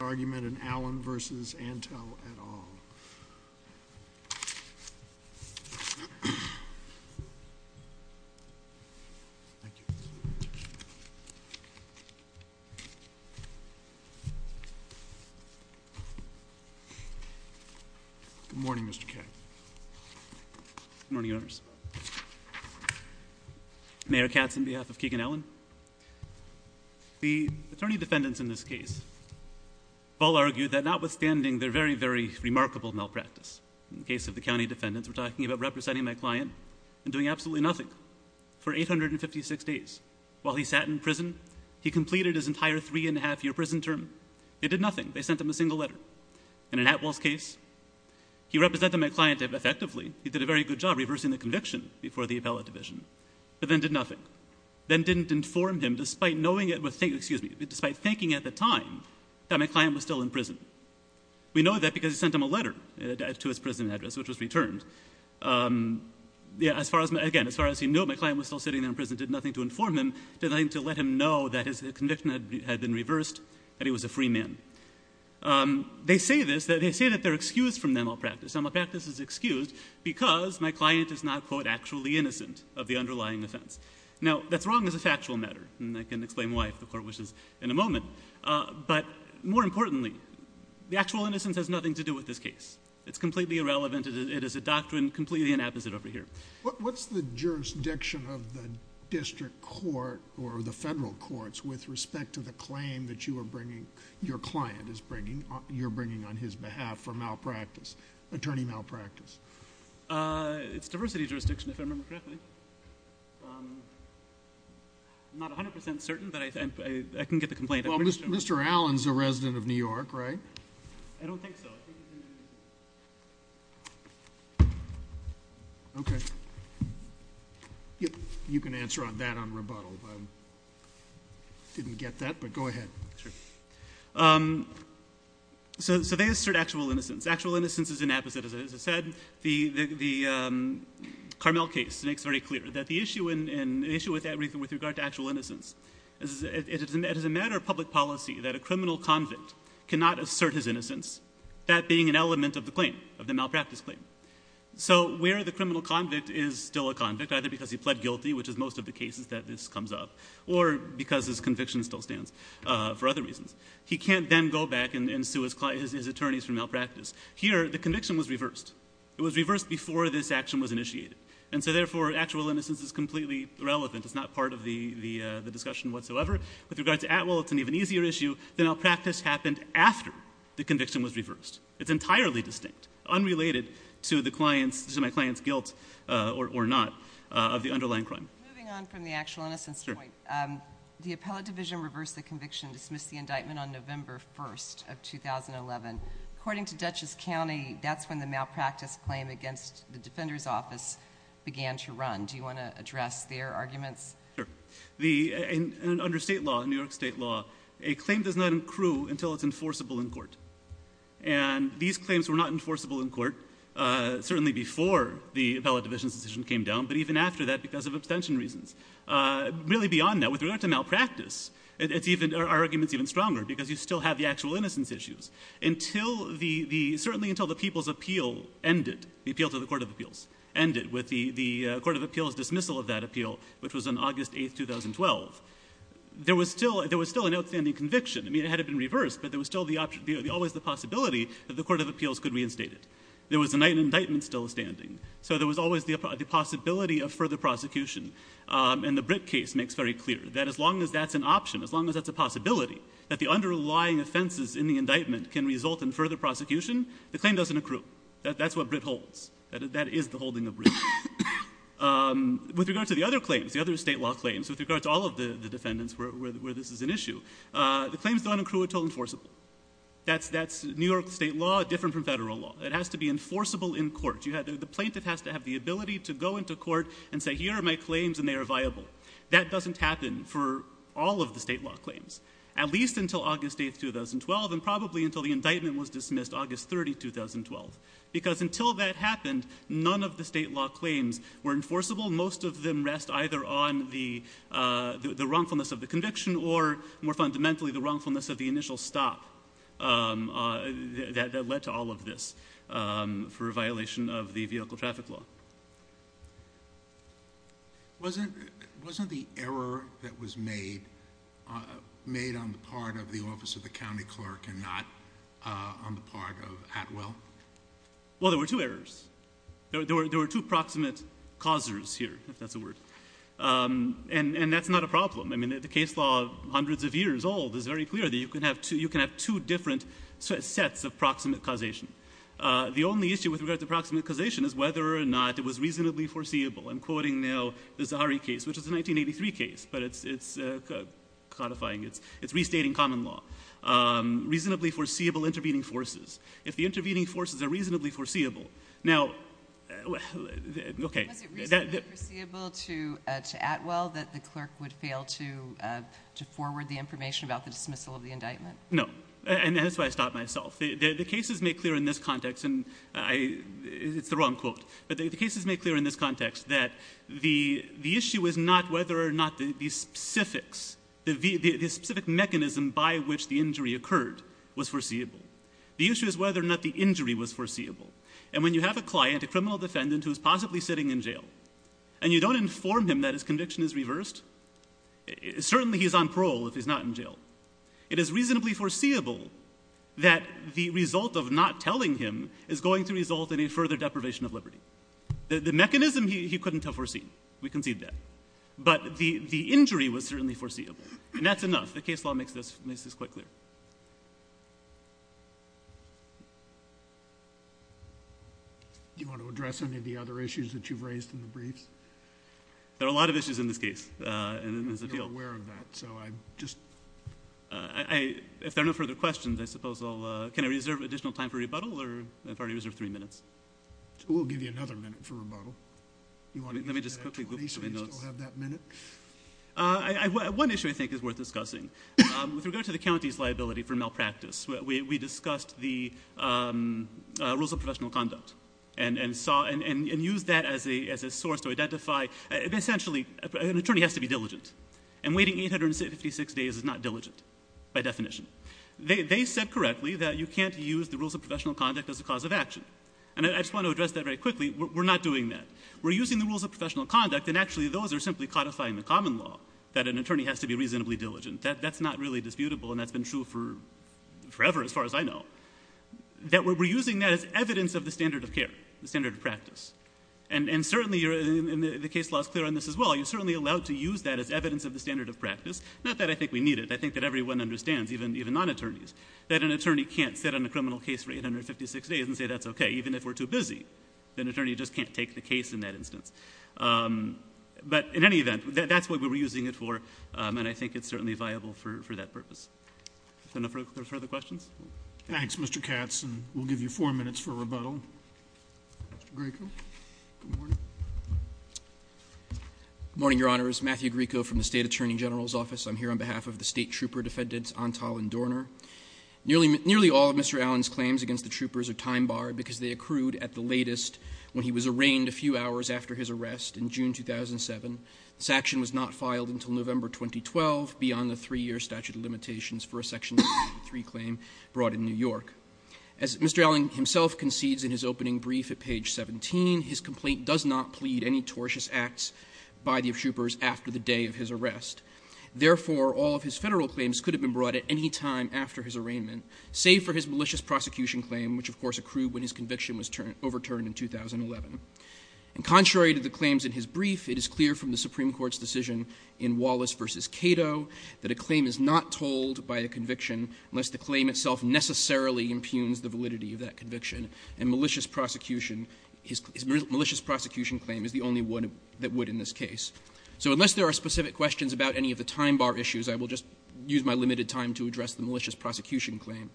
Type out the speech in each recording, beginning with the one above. argument in Allen versus Antal at all. Good morning, Mr K. Morning owners. Mayor Katz on behalf of Keegan Ellen. The attorney defendants in this case all argued that notwithstanding their very, very remarkable malpractice in the case of the county defendants, we're talking about representing my client and doing absolutely nothing for 856 days. While he sat in prison, he completed his entire three and a half year prison term. It did nothing. They sent him a single letter and in Atwell's case, he represented my client effectively. He did a very good job reversing the conviction before the appellate division, but then did nothing. Then didn't inform him despite knowing it was, excuse me, despite thinking at the time that my client was still in prison. We know that because he sent him a letter to his prison address, which was returned. Yeah, as far as my, again, as far as he knew, my client was still sitting there in prison, did nothing to inform him, did nothing to let him know that his conviction had been reversed, that he was a free man. They say this, that they say that they're excused from malpractice. Malpractice is excused because my client is not, quote, actually innocent of the underlying offense. and I can explain why if the court wishes in a moment, but more importantly, the actual innocence has nothing to do with this case. It's completely irrelevant. It is a doctrine completely inapposite over here. What's the jurisdiction of the district court or the federal courts with respect to the claim that you are bringing, your client is bringing, you're bringing on his behalf for malpractice, attorney malpractice? It's diversity jurisdiction, if I remember correctly. I'm not 100% certain, but I can get the complaint. Well, Mr. Allen's a resident of New York, right? I don't think so. Okay. You can answer on that on rebuttal. Didn't get that, but go ahead. So they assert actual innocence. Actual innocence is inapposite. As I said, the Carmel case makes very clear that the issue and issue with everything with regard to actual innocence, it is a matter of public policy that a criminal convict cannot assert his innocence, that being an element of the claim, of the malpractice claim. So where the criminal convict is still a convict, either because he pled guilty, which is most of the cases that this comes up, or because his conviction still stands for other reasons, he can't then go back and sue his attorneys for malpractice. Here, the conviction was reversed. It was reversed before this action was initiated. And so therefore, actual innocence is completely irrelevant. It's not part of the discussion whatsoever. With regard to Atwell, it's an even easier issue than malpractice happened after the conviction was reversed. It's entirely distinct, unrelated to the client's, to my client's guilt, or not, of the underlying crime. Moving on from the actual innocence point, the appellate division reversed the conviction, dismissed the indictment on November 1st of 2011. According to Dutchess County, that's when the malpractice claim against the Defender's Office began to run. Do you want to address their arguments? Sure. Under state law, in New York state law, a claim does not accrue until it's enforceable in court. And these claims were not enforceable in court, certainly before the appellate division's decision came down, but even after that, because of abstention reasons. Really beyond that, with regard to malpractice, it's even, our argument's even stronger, because you still have the actual innocence issues. Until the, certainly until the People's Appeal ended, the appeal to the Court of Appeals ended, with the Court of Appeals dismissal of that appeal, which was on August 8th, 2012. There was still, there was still an outstanding conviction. I mean, it had been reversed, but there was still the, always the possibility that the Court of Appeals could reinstate it. There was an indictment still standing. So there was always the possibility of further prosecution. And the Britt case makes very clear that as long as that's an option, as long as that's a possibility, that the underlying offenses in the indictment can result in further prosecution, the claim doesn't accrue. That's what Britt holds. That is the holding of Britt. With regard to the other claims, the other state law claims, with regard to all of the defendants where this is an issue, the claims don't accrue until enforceable. That's New York state law, different from federal law. It has to be enforceable in court. You have, the plaintiff has to have the ability to go into court and say, here are my claims and they are viable. That doesn't happen for all of the state law claims, at least until August 8th, 2012, and probably until the indictment was dismissed, August 30th, 2012. Because until that happened, none of the state law claims were enforceable. Most of them rest either on the wrongfulness of the conviction or, more fundamentally, the wrongfulness of the initial stop that led to all of this for a violation of the vehicle traffic law. Wasn't the error that was made made on the part of the office of the county clerk and not on the part of Atwell? Well, there were two errors. There were two proximate causers here, if that's a word. And that's not a problem. I mean, the case law, hundreds of years old, is very clear that you can have two different sets of proximate causation. The only issue with regard to proximate causation is whether or not it was reasonably foreseeable. I'm quoting now the Zahari case, which is a 1983 case, but it's codifying, it's restating common law. Reasonably foreseeable intervening forces. If the intervening forces are reasonably foreseeable. Now, okay. Was it reasonably foreseeable to Atwell that the clerk would fail to forward the information about the dismissal of the indictment? No, and that's why I stopped myself. The cases make clear in this context, and it's the wrong quote, but the cases make clear in this context that the issue is not whether or not the specifics, the specific mechanism by which the injury occurred was foreseeable. The issue is whether or not the injury was foreseeable. And when you have a client, a criminal defendant, who's possibly sitting in jail, and you don't inform him that his conviction is reversed, certainly he's on parole if he's not in jail. It is reasonably foreseeable that the result of not telling him is going to result in a further deprivation of liberty. The mechanism he couldn't have foreseen. We concede that. But the injury was certainly foreseeable. And that's enough. The case law makes this quite clear. Do you want to address any of the other issues that you've raised in the briefs? There are a lot of issues in this case, and there's a deal. We're aware of that. So I just... If there are no further questions, I suppose I'll... Can I reserve additional time for rebuttal, or I've already reserved three minutes? We'll give you another minute for rebuttal. You want to give that to me, so you still have that minute? One issue I think is worth discussing. With regard to the county's liability for malpractice, we discussed the rules of professional conduct and used that as a source to identify... Essentially, an attorney has to be diligent. And waiting 856 days is not diligent by definition. They said correctly that you can't use the rules of professional conduct as a cause of action. And I just want to address that very quickly. We're not doing that. We're using the rules of professional conduct, and actually those are simply codifying the common law, that an attorney has to be reasonably diligent. That's not really disputable, and that's been true forever, as far as I know. We're using that as evidence of the standard of care, the standard of practice. And certainly, the case law is clear on this as well. You're certainly allowed to use that as evidence of the standard of practice. Not that I think we need it. I think that everyone understands, even non-attorneys, that an attorney can't sit on a criminal case for 856 days and say that's okay, even if we're too busy. An attorney just can't take the case in that instance. But in any event, that's what we're using it for, and I think it's certainly viable for that purpose. If there are no further questions? Thanks, Mr. Katz. And we'll give you four minutes for rebuttal. Mr. Grieco. Good morning. Good morning, Your Honors. Matthew Grieco from the State Attorney General's Office. I'm here on behalf of the State Trooper Defendants, Antal and Dorner. Nearly all of Mr. Allen's claims against the troopers are time-barred because they accrued at the latest when he was arraigned a few hours after his arrest, in June 2007. This action was not filed until November 2012, beyond the three-year statute of limitations for a Section 23 claim brought in New York. As Mr. Allen himself concedes in his opening brief at page 17, his complaint does not plead any tortious acts by the troopers after the day of his arrest. Therefore, all of his federal claims could have been brought at any time after his arraignment, save for his malicious prosecution claim, which, of course, accrued when his conviction was overturned in 2011. And contrary to the claims in his brief, it is clear from the Supreme Court's decision in Wallace v. Cato that a claim is not told by a conviction unless the claim itself necessarily impugns the validity of that conviction. And malicious prosecution, his malicious prosecution claim is the only one that would in this case. So unless there are specific questions about any of the time-bar issues, I will just use my limited time to address the malicious prosecution claim.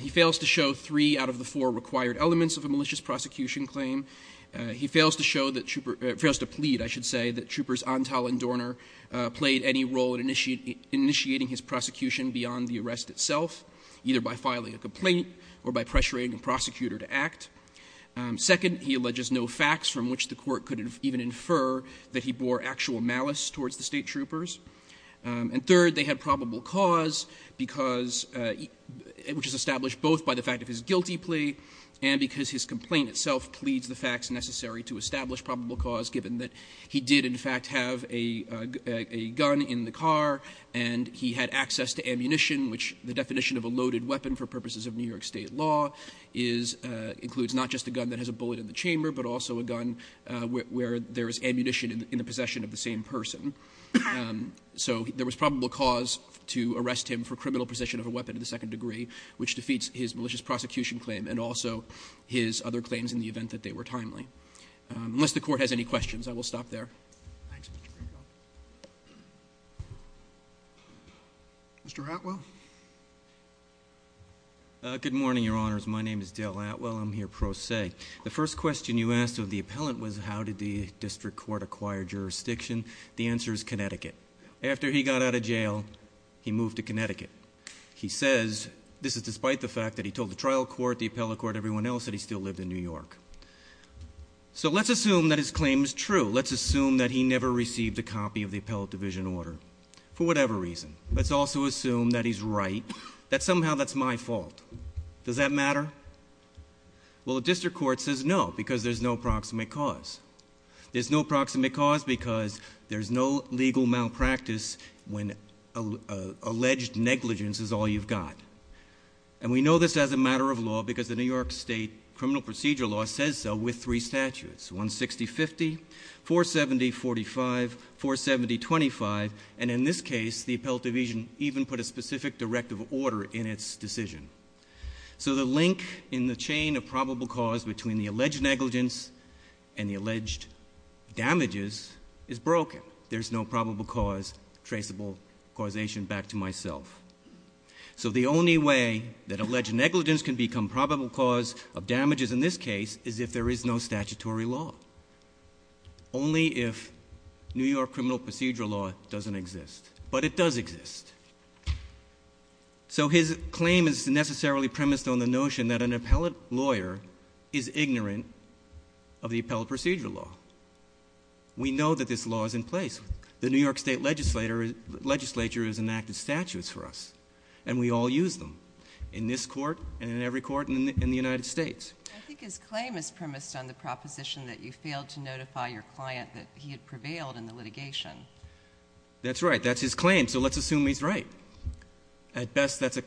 He fails to show three out of the four required elements of a malicious prosecution claim. He fails to show that trooper, fails to plead, I should say, that troopers Antal and Dorner played any role in initiating his prosecution beyond the arrest itself, either by filing a complaint or by pressuring a prosecutor to act. Second, he alleges no facts from which the court could even infer that he bore actual malice towards the State troopers. And third, they had probable cause because, which is established both by the fact of his guilty plea and because his complaint itself pleads the facts necessary to establish probable cause, given that he did in fact have a gun in the car and he had access to ammunition, which the definition of a loaded weapon for purposes of New York State law includes not just a gun that has a bullet in the chamber, but also a gun where there is ammunition in the possession of the same person. So there was probable cause to arrest him for criminal possession of a weapon of the second degree, which defeats his malicious prosecution claim and also his other claims in the event that they were timely. Unless the court has any questions, I will stop there. Mr. Atwell. Good morning, Your Honors. My name is Dale Atwell. I'm here pro se. The first question you asked of the appellant was how did the district court acquire jurisdiction? The answer is Connecticut. After he got out of jail, he moved to Connecticut. He says, this is despite the fact that he told the trial court, the appellate court, everyone else that he still lived in New York. So let's assume that his claim is true. Let's assume that he never received a copy of the appellate division order for whatever reason. Let's also assume that he's right, that somehow that's my fault. Does that matter? Well, the district court says no because there's no proximate cause. There's no proximate cause because there's no legal malpractice when alleged negligence is all you've got. And we know this as a matter of law because the New York State criminal procedure law says so with three statutes, 160-50, 470-45, 470-25. And in this case, the appellate division even put a specific directive order in its decision. So the link in the chain of probable cause between the alleged negligence and the alleged damages is broken. There's no probable cause, traceable causation back to myself. So the only way that alleged negligence can become probable cause of damages in this case is if there is no statutory law. Only if New York criminal procedure law doesn't exist. But it does exist. So his claim is necessarily premised on the notion that an appellate lawyer is ignorant of the appellate procedure law. We know that this law is in place. The New York State legislature has enacted statutes for us and we all use them in this court and in every court in the United States. I think his claim is premised on the proposition that you failed to notify your client that he had prevailed in the litigation. That's right. That's his claim. So let's assume he's right. At best, that's a...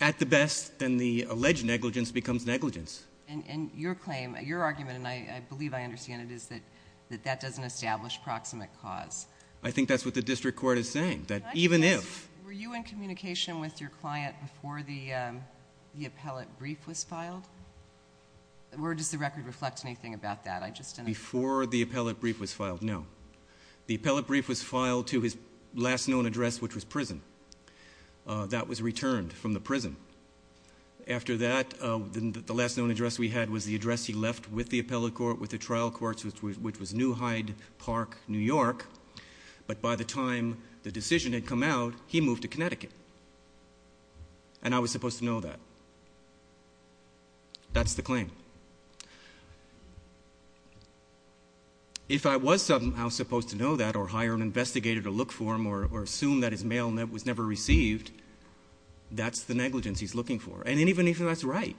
At the best, then the alleged negligence becomes negligence. And your claim, your argument, and I believe I understand it, is that that doesn't establish proximate cause. I think that's what the district court is saying, that even if... Were you in communication with your client before the appellate brief was filed? Or does the record reflect anything about that? I just didn't... Before the appellate brief was filed, no. The appellate brief was filed to his last known address, which was prison. That was returned from the prison. After that, the last known address we had was the address he left with the appellate court, with the trial courts, which was New Hyde Park, New York. But by the time the decision had come out, he moved to Connecticut. And I was supposed to know that. That's the claim. If I was somehow supposed to know that, or hire an investigator to look for him, or assume that his mail was never received, that's the negligence he's looking for. And even if that's right,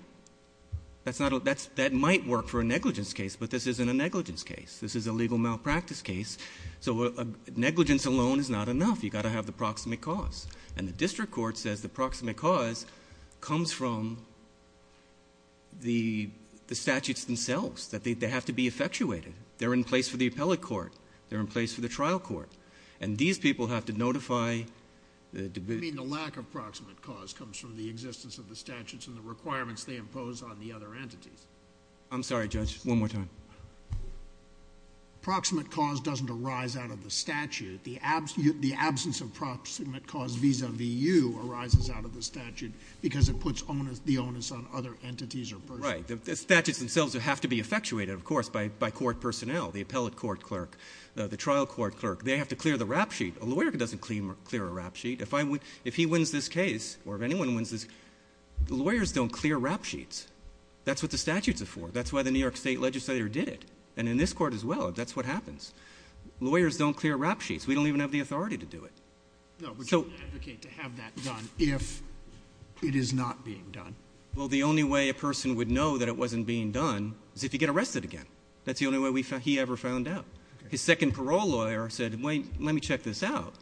that might work for a negligence case, but this isn't a negligence case. This is a legal malpractice case. So negligence alone is not enough. You've got to have the proximate cause. And the district court says the proximate cause comes from the statutes themselves, that they have to be effectuated. They're in place for the appellate court. They're in place for the trial court. And these people have to notify the division. I mean, the lack of proximate cause comes from the existence of the statutes and the requirements they impose on the other entities. I'm sorry, Judge, one more time. Proximate cause doesn't arise out of the statute. The absence of proximate cause vis-à-vis you arises out of the statute because it puts the onus on other entities or persons. Right. The statutes themselves have to be effectuated, of course, by court personnel, the appellate court clerk, the trial court clerk. They have to clear the rap sheet. A lawyer doesn't clear a rap sheet. If he wins this case, or if anyone wins this case, lawyers don't clear rap sheets. That's what the statutes are for. That's why the New York state legislator did it. And in this court as well, that's what happens. Lawyers don't clear rap sheets. We don't even have the authority to do it. No, we don't advocate to have that done if it is not being done. Well, the only way a person would know that it wasn't being done is if you get arrested again. That's the only way he ever found out. His second parole lawyer said, wait, let me check this out.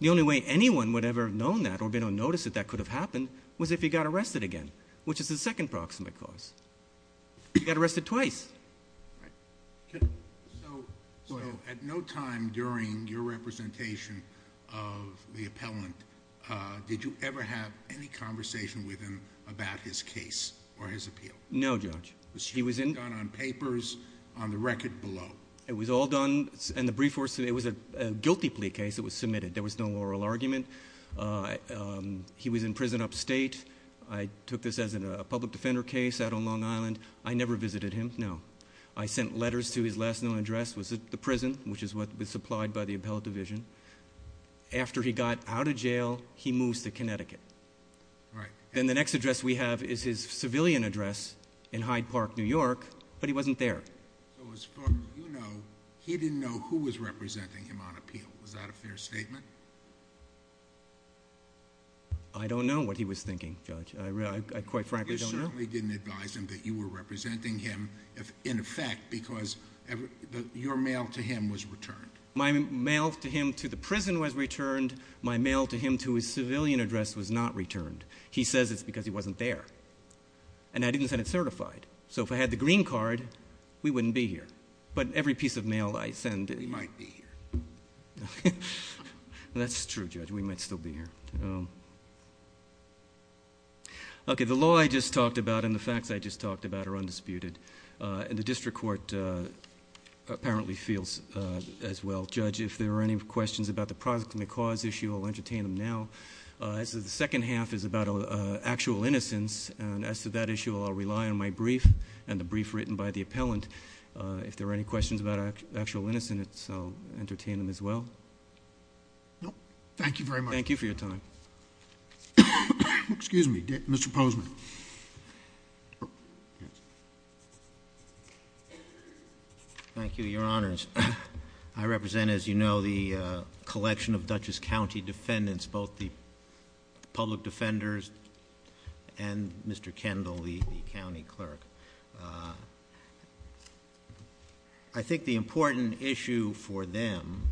The only way anyone would ever have known that or been unnoticed that that could have happened was if he got arrested again, which is the second proximate cause. He got arrested twice. So, at no time during your representation of the appellant, did you ever have any conversation with him about his case or his appeal? No, Judge. Was he done on papers, on the record below? It was all done in the brief force. It was a guilty plea case that was submitted. There was no oral argument. He was in prison upstate. I took this as a public defender case out on Long Island. I never visited him, no. I sent letters to his last known address, which was the prison, which is what was supplied by the appellate division. After he got out of jail, he moves to Connecticut. Right. Then the next address we have is his civilian address in Hyde Park, New York, but he wasn't there. So, as far as you know, he didn't know who was representing him on appeal. Was that a fair statement? I don't know what he was thinking, Judge. I quite frankly don't know. You certainly didn't advise him that you were representing him in effect because your mail to him was returned. My mail to him to the prison was returned. My mail to him to his civilian address was not returned. He says it's because he wasn't there. And I didn't send it certified. So, if I had the green card, we wouldn't be here. But every piece of mail I send... We might be here. That's true, Judge. We might still be here. Okay, the law I just talked about and the facts I just talked about are undisputed. And the District Court apparently feels as well. Judge, if there are any questions about the prosecuted cause issue, I'll entertain them now. As the second half is about actual innocence, and as to that issue, I'll rely on my brief and the brief written by the appellant. If there are any questions about actual innocence, I'll entertain them as well. Thank you very much. Thank you for your time. Excuse me, Mr. Posman. Thank you, Your Honors. I represent, as you know, the collection of Dutchess County defendants, both the public defenders and Mr. Kendall, the county clerk. I think the important issue for them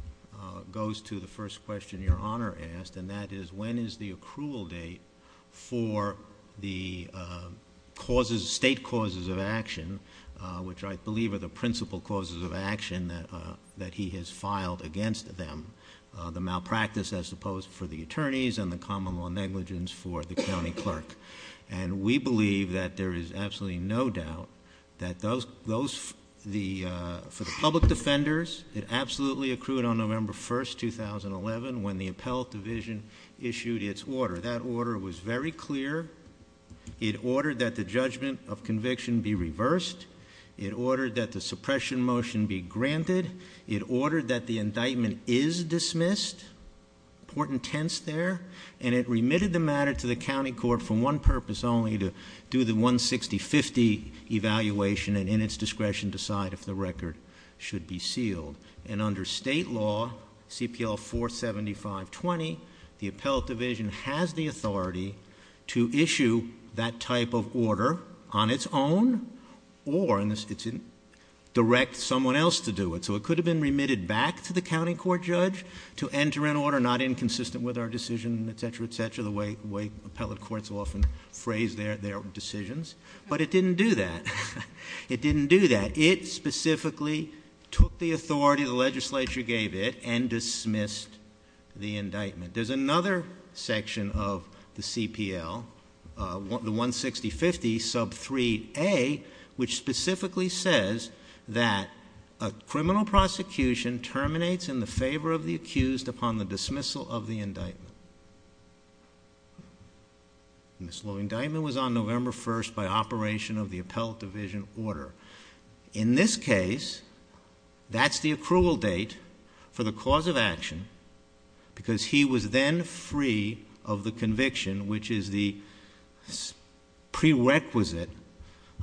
goes to the first question Your Honor asked, and that is, when is the accrual date for the causes, state causes of action which I believe are the principal causes of action that he has filed against them, the malpractice as opposed for the attorneys and the common law negligence for the county clerk. And we believe that there is absolutely no doubt that for the public defenders, it absolutely accrued on November 1st, 2011 when the appellate division issued its order. That order was very clear. It ordered that the judgment of conviction be reversed. It ordered that the suppression motion be granted. It ordered that the indictment is dismissed. Important tense there. And it remitted the matter to the county court for one purpose only, to do the 160-50 evaluation and in its discretion decide if the record should be sealed. And under state law, CPL 475-20, the appellate division has the authority to issue that type of order on its own or direct someone else to do it. So it could have been remitted back to the county court judge to enter an order not inconsistent with our decision, etc., etc., the way appellate courts often phrase their decisions. But it didn't do that. It didn't do that. It specifically took the authority the legislature gave it and dismissed the indictment. There's another section of the CPL, the 160-50 sub 3A, which specifically says that a criminal prosecution terminates in the favor of the accused upon the dismissal of the indictment. And this law indictment was on November 1st by operation of the appellate division order. In this case, that's the accrual date for the cause of action because he was then free of the conviction, which is the prerequisite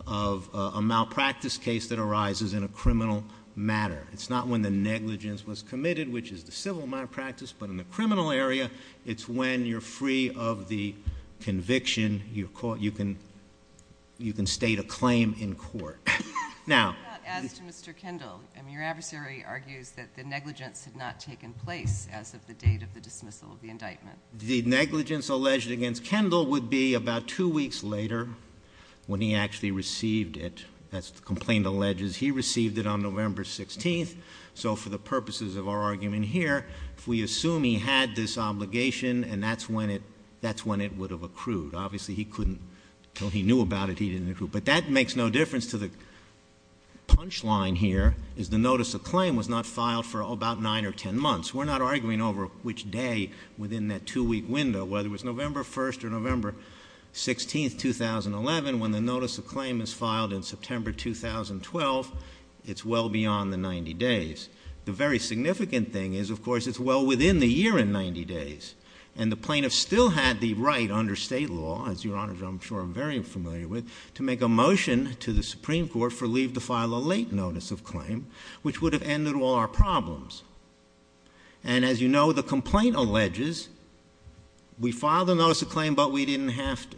of a malpractice case that arises in a criminal matter. It's not when the negligence was committed, which is the civil malpractice, but in the criminal area, it's when you're free of the conviction. You're caught. You can state a claim in court. Now, as to Mr. Kendall, I mean, your adversary argues that the negligence had not taken place as of the date of the dismissal of the indictment. The negligence alleged against Kendall would be about two weeks later when he actually received it. That's the complaint alleges. He received it on November 16th. So for the purposes of our argument here, if we assume he had this obligation and that's when it would have accrued. Obviously, he couldn't, until he knew about it, he didn't accrue. But that makes no difference to the punchline here is the notice of claim was not filed for about nine or 10 months. We're not arguing over which day within that two-week window, whether it was November 1st or November 16th, 2011, when the notice of claim is filed in September 2012, it's well beyond the 90 days. The very significant thing is, of course, it's well within the year in 90 days. And the plaintiff still had the right under state law, as your honor, I'm sure I'm very familiar with, to make a motion to the Supreme Court for leave to file a late notice of claim, which would have ended all our problems. And as you know, the complaint alleges we filed a notice of claim, but we didn't have to.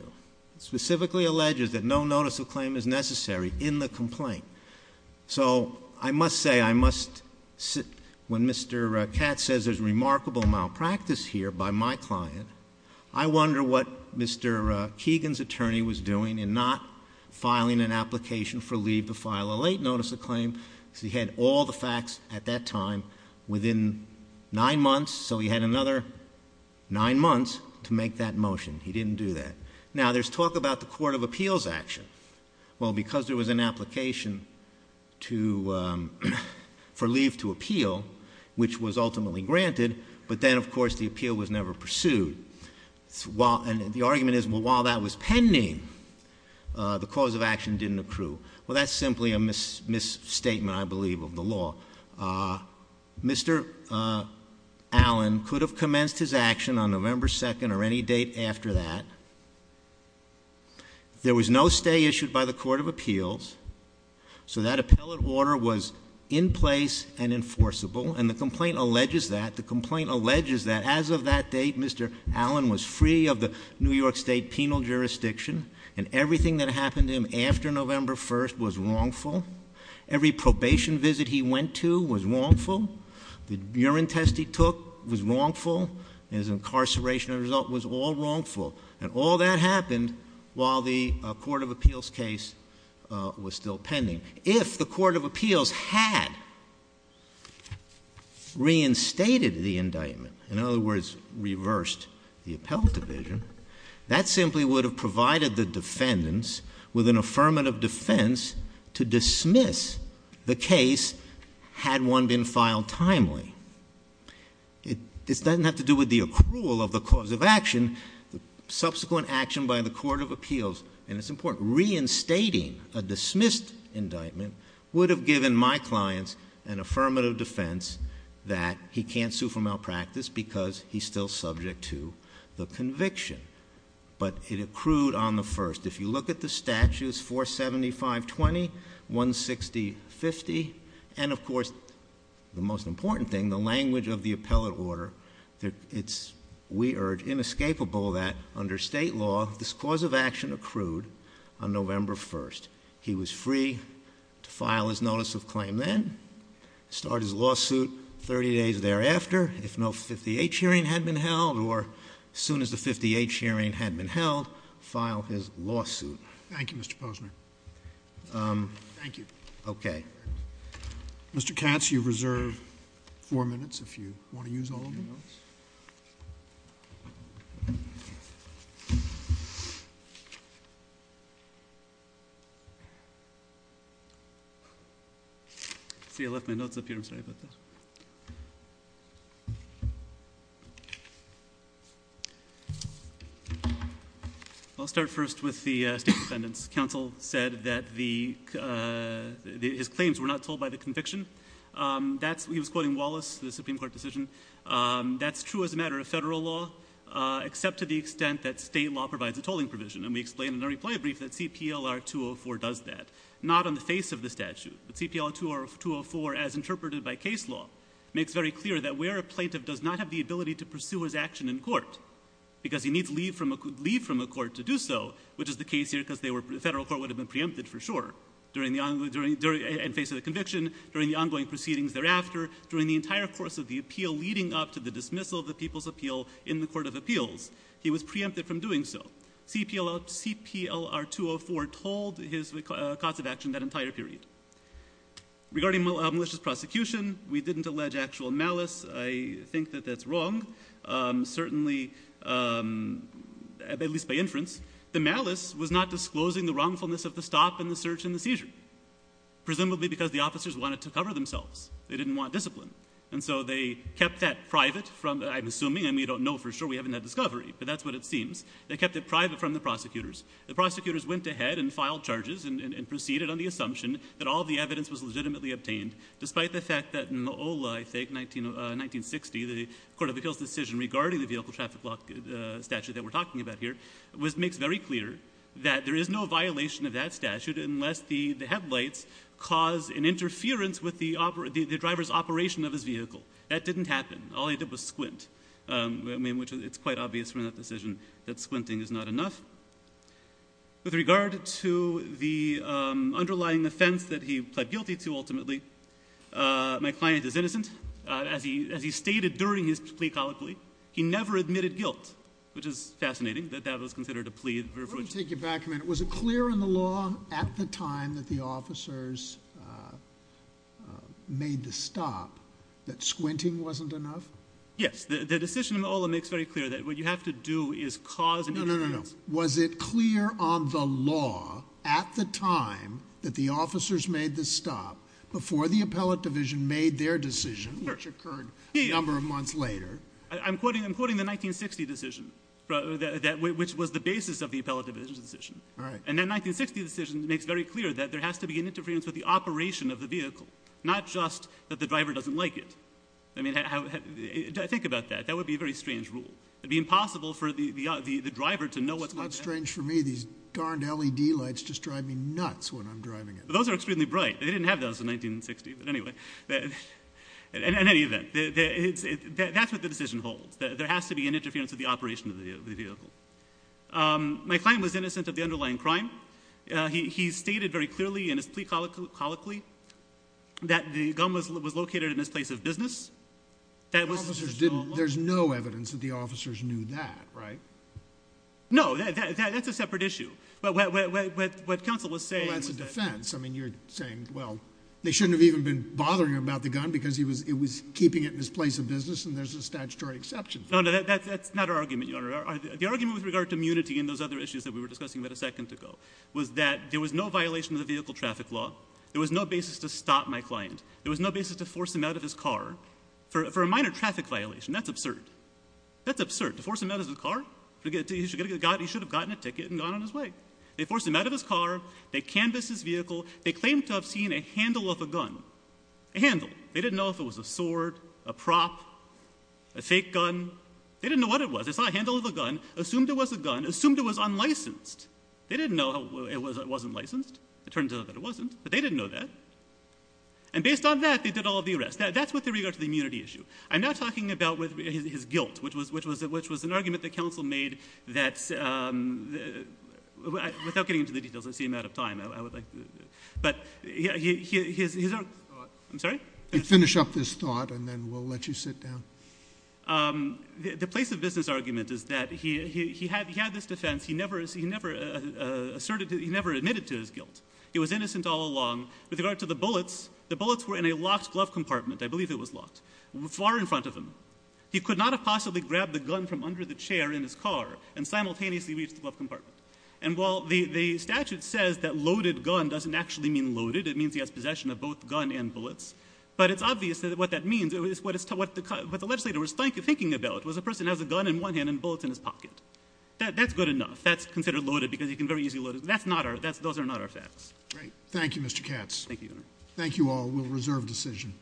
Specifically alleges that no notice of claim is necessary in the complaint. So I must say, I must say, when Mr. Katz says there's remarkable malpractice here by my client, I wonder what Mr. Keegan's attorney was doing in not filing an application for leave to file a late notice of claim, because he had all the facts at that time within nine months. So he had another nine months to make that motion. He didn't do that. Now, there's talk about the court of appeals action. Well, because there was an application to, um, for leave to appeal, which was ultimately granted, but then, of course, the appeal was never pursued. So while, and the argument is, well, while that was pending, the cause of action didn't accrue. Well, that's simply a misstatement, I believe, of the law. Mr. Allen could have commenced his action on November 2nd or any date after that. There was no stay issued by the court of appeals. So that appellate order was in place and enforceable. And the complaint alleges that, the complaint alleges that as of that date, Mr. Allen was free of the New York State penal jurisdiction and everything that happened to him after November 1st was wrongful. Every probation visit he went to was wrongful. The urine test he took was wrongful. His incarceration result was all wrongful. And all that happened while the court of appeals case was still pending. If the court of appeals had reinstated the indictment, in other words, reversed the appellate division, that simply would have provided the defendants with an affirmative defense to dismiss the case had one been filed timely. It doesn't have to do with the accrual of the cause of action. The subsequent action by the court of appeals, and it's important, reinstating a dismissed indictment, would have given my clients an affirmative defense that he can't sue for malpractice because he's still subject to the conviction. But it accrued on the 1st. If you look at the statutes, 47520, 16050, and of course, the most important thing, the language of the appellate order, it's, we urge, inescapable that under state law, this cause of action accrued on November 1st. He was free to file his notice of claim then, start his lawsuit 30 days thereafter, if no 50-H hearing had been held, or as soon as the 50-H hearing had been held, file his lawsuit. Thank you, Mr. Posner. Thank you. Okay. Mr. Katz, you reserve four minutes if you want to use all of the notes. See, I left my notes up here. I'm sorry about that. Thank you. I'll start first with the state defendants. Counsel said that his claims were not told by the conviction. He was quoting Wallace, the Supreme Court decision. That's true as a matter of federal law, except to the extent that state law provides a tolling provision. And we explained in our reply brief that CPLR 204 does that. Not on the face of the statute, but CPLR 204, as interpreted by case law, makes very clear that where a plaintiff does not have the ability to pursue his action in court, because he needs leave from a court to do so, which is the case here, because the federal court would have been preempted for sure, in face of the conviction, during the ongoing proceedings thereafter, during the entire course of the appeal leading up to the dismissal of the people's appeal in the Court of Appeals, he was preempted from doing so. CPLR 204 told his cause of action that entire period. Regarding malicious prosecution, we didn't allege actual malice. I think that that's wrong. Certainly, at least by inference, the malice was not disclosing the wrongfulness of the stop and the search and the seizure, presumably because the officers wanted to cover themselves. They didn't want discipline. And so they kept that private from, I'm assuming, and we don't know for sure, we haven't had discovery, but that's what it seems. They kept it private from the prosecutors. The prosecutors went ahead and filed charges and proceeded on the assumption that all the evidence was legitimately obtained, despite the fact that in the OLA, I think, 1960, the Court of Appeals decision regarding the vehicle traffic law statute that we're talking about here, which makes very clear that there is no violation of that statute unless the headlights cause an interference with the driver's operation of his vehicle. That didn't happen. All he did was squint, which it's quite obvious from that decision that squinting is not enough. With regard to the underlying offense that he pled guilty to, ultimately, my client is innocent. As he stated during his plea colloquy, he never admitted guilt, which is fascinating that that was considered a plea. Let me take you back a minute. Was it clear in the law at the time that the officers made the stop that squinting wasn't enough? Yes, the decision in the OLA makes very clear that what you have to do is cause an interference. No, no, no, no. Was it clear on the law at the time that the officers made the stop before the appellate division made their decision, which occurred a number of months later? I'm quoting the 1960 decision, which was the basis of the appellate division's decision. All right. And that 1960 decision makes very clear that there has to be an interference with the operation of the vehicle, not just that the driver doesn't like it. I mean, think about that. That would be a very strange rule. It'd be impossible for the driver to know what's going on. It's not strange for me. These darned LED lights just drive me nuts when I'm driving it. Those are extremely bright. They didn't have those in 1960. But anyway, in any event, that's what the decision holds, that there has to be an interference with the operation of the vehicle. My client was innocent of the underlying crime. He stated very clearly in his plea colloquy that the gun was located in his place of business. That was his law. There's no evidence that the officers knew that, right? No, that's a separate issue. But what counsel was saying was that... Well, that's a defense. I mean, you're saying, well, they shouldn't have even been bothering him about the gun because he was keeping it in his place of business and there's a statutory exception. No, no, that's not our argument, Your Honor. The argument with regard to immunity and those other issues that we were discussing about a second ago was that there was no violation of the vehicle traffic law. There was no basis to stop my client. There was no basis to force him out of his car for a minor traffic violation. That's absurd. That's absurd. To force him out of the car? He should have gotten a ticket and gone on his way. They forced him out of his car. They canvassed his vehicle. They claimed to have seen a handle of a gun. A handle. They didn't know if it was a sword, a prop, a fake gun. They didn't know what it was. They saw a handle of a gun, assumed it was a gun, assumed it was unlicensed. They didn't know it wasn't licensed. It turned out that it wasn't, but they didn't know that. And based on that, they did all of the arrests. That's with regard to the immunity issue. I'm not talking about his guilt, which was an argument that counsel made that, without getting into the details, I see I'm out of time. I would like to, but his, I'm sorry? You finish up this thought and then we'll let you sit down. The place of business argument is that he had this defense. He never asserted, he never admitted to his guilt. He was innocent all along. With regard to the bullets, the bullets were in a locked glove compartment. I believe it was locked, far in front of him. He could not have possibly grabbed the gun from under the chair in his car and simultaneously reached the glove compartment. And while the statute says that loaded gun doesn't actually mean loaded, it means he has possession of both gun and bullets. But it's obvious that what that means, what the legislator was thinking about was a person has a gun in one hand and bullets in his pocket. That's good enough. That's considered loaded because he can very easily load it. That's not our, those are not our facts. Great. Thank you, Mr. Katz. Thank you, Your Honor. Thank you all. We'll reserve decision.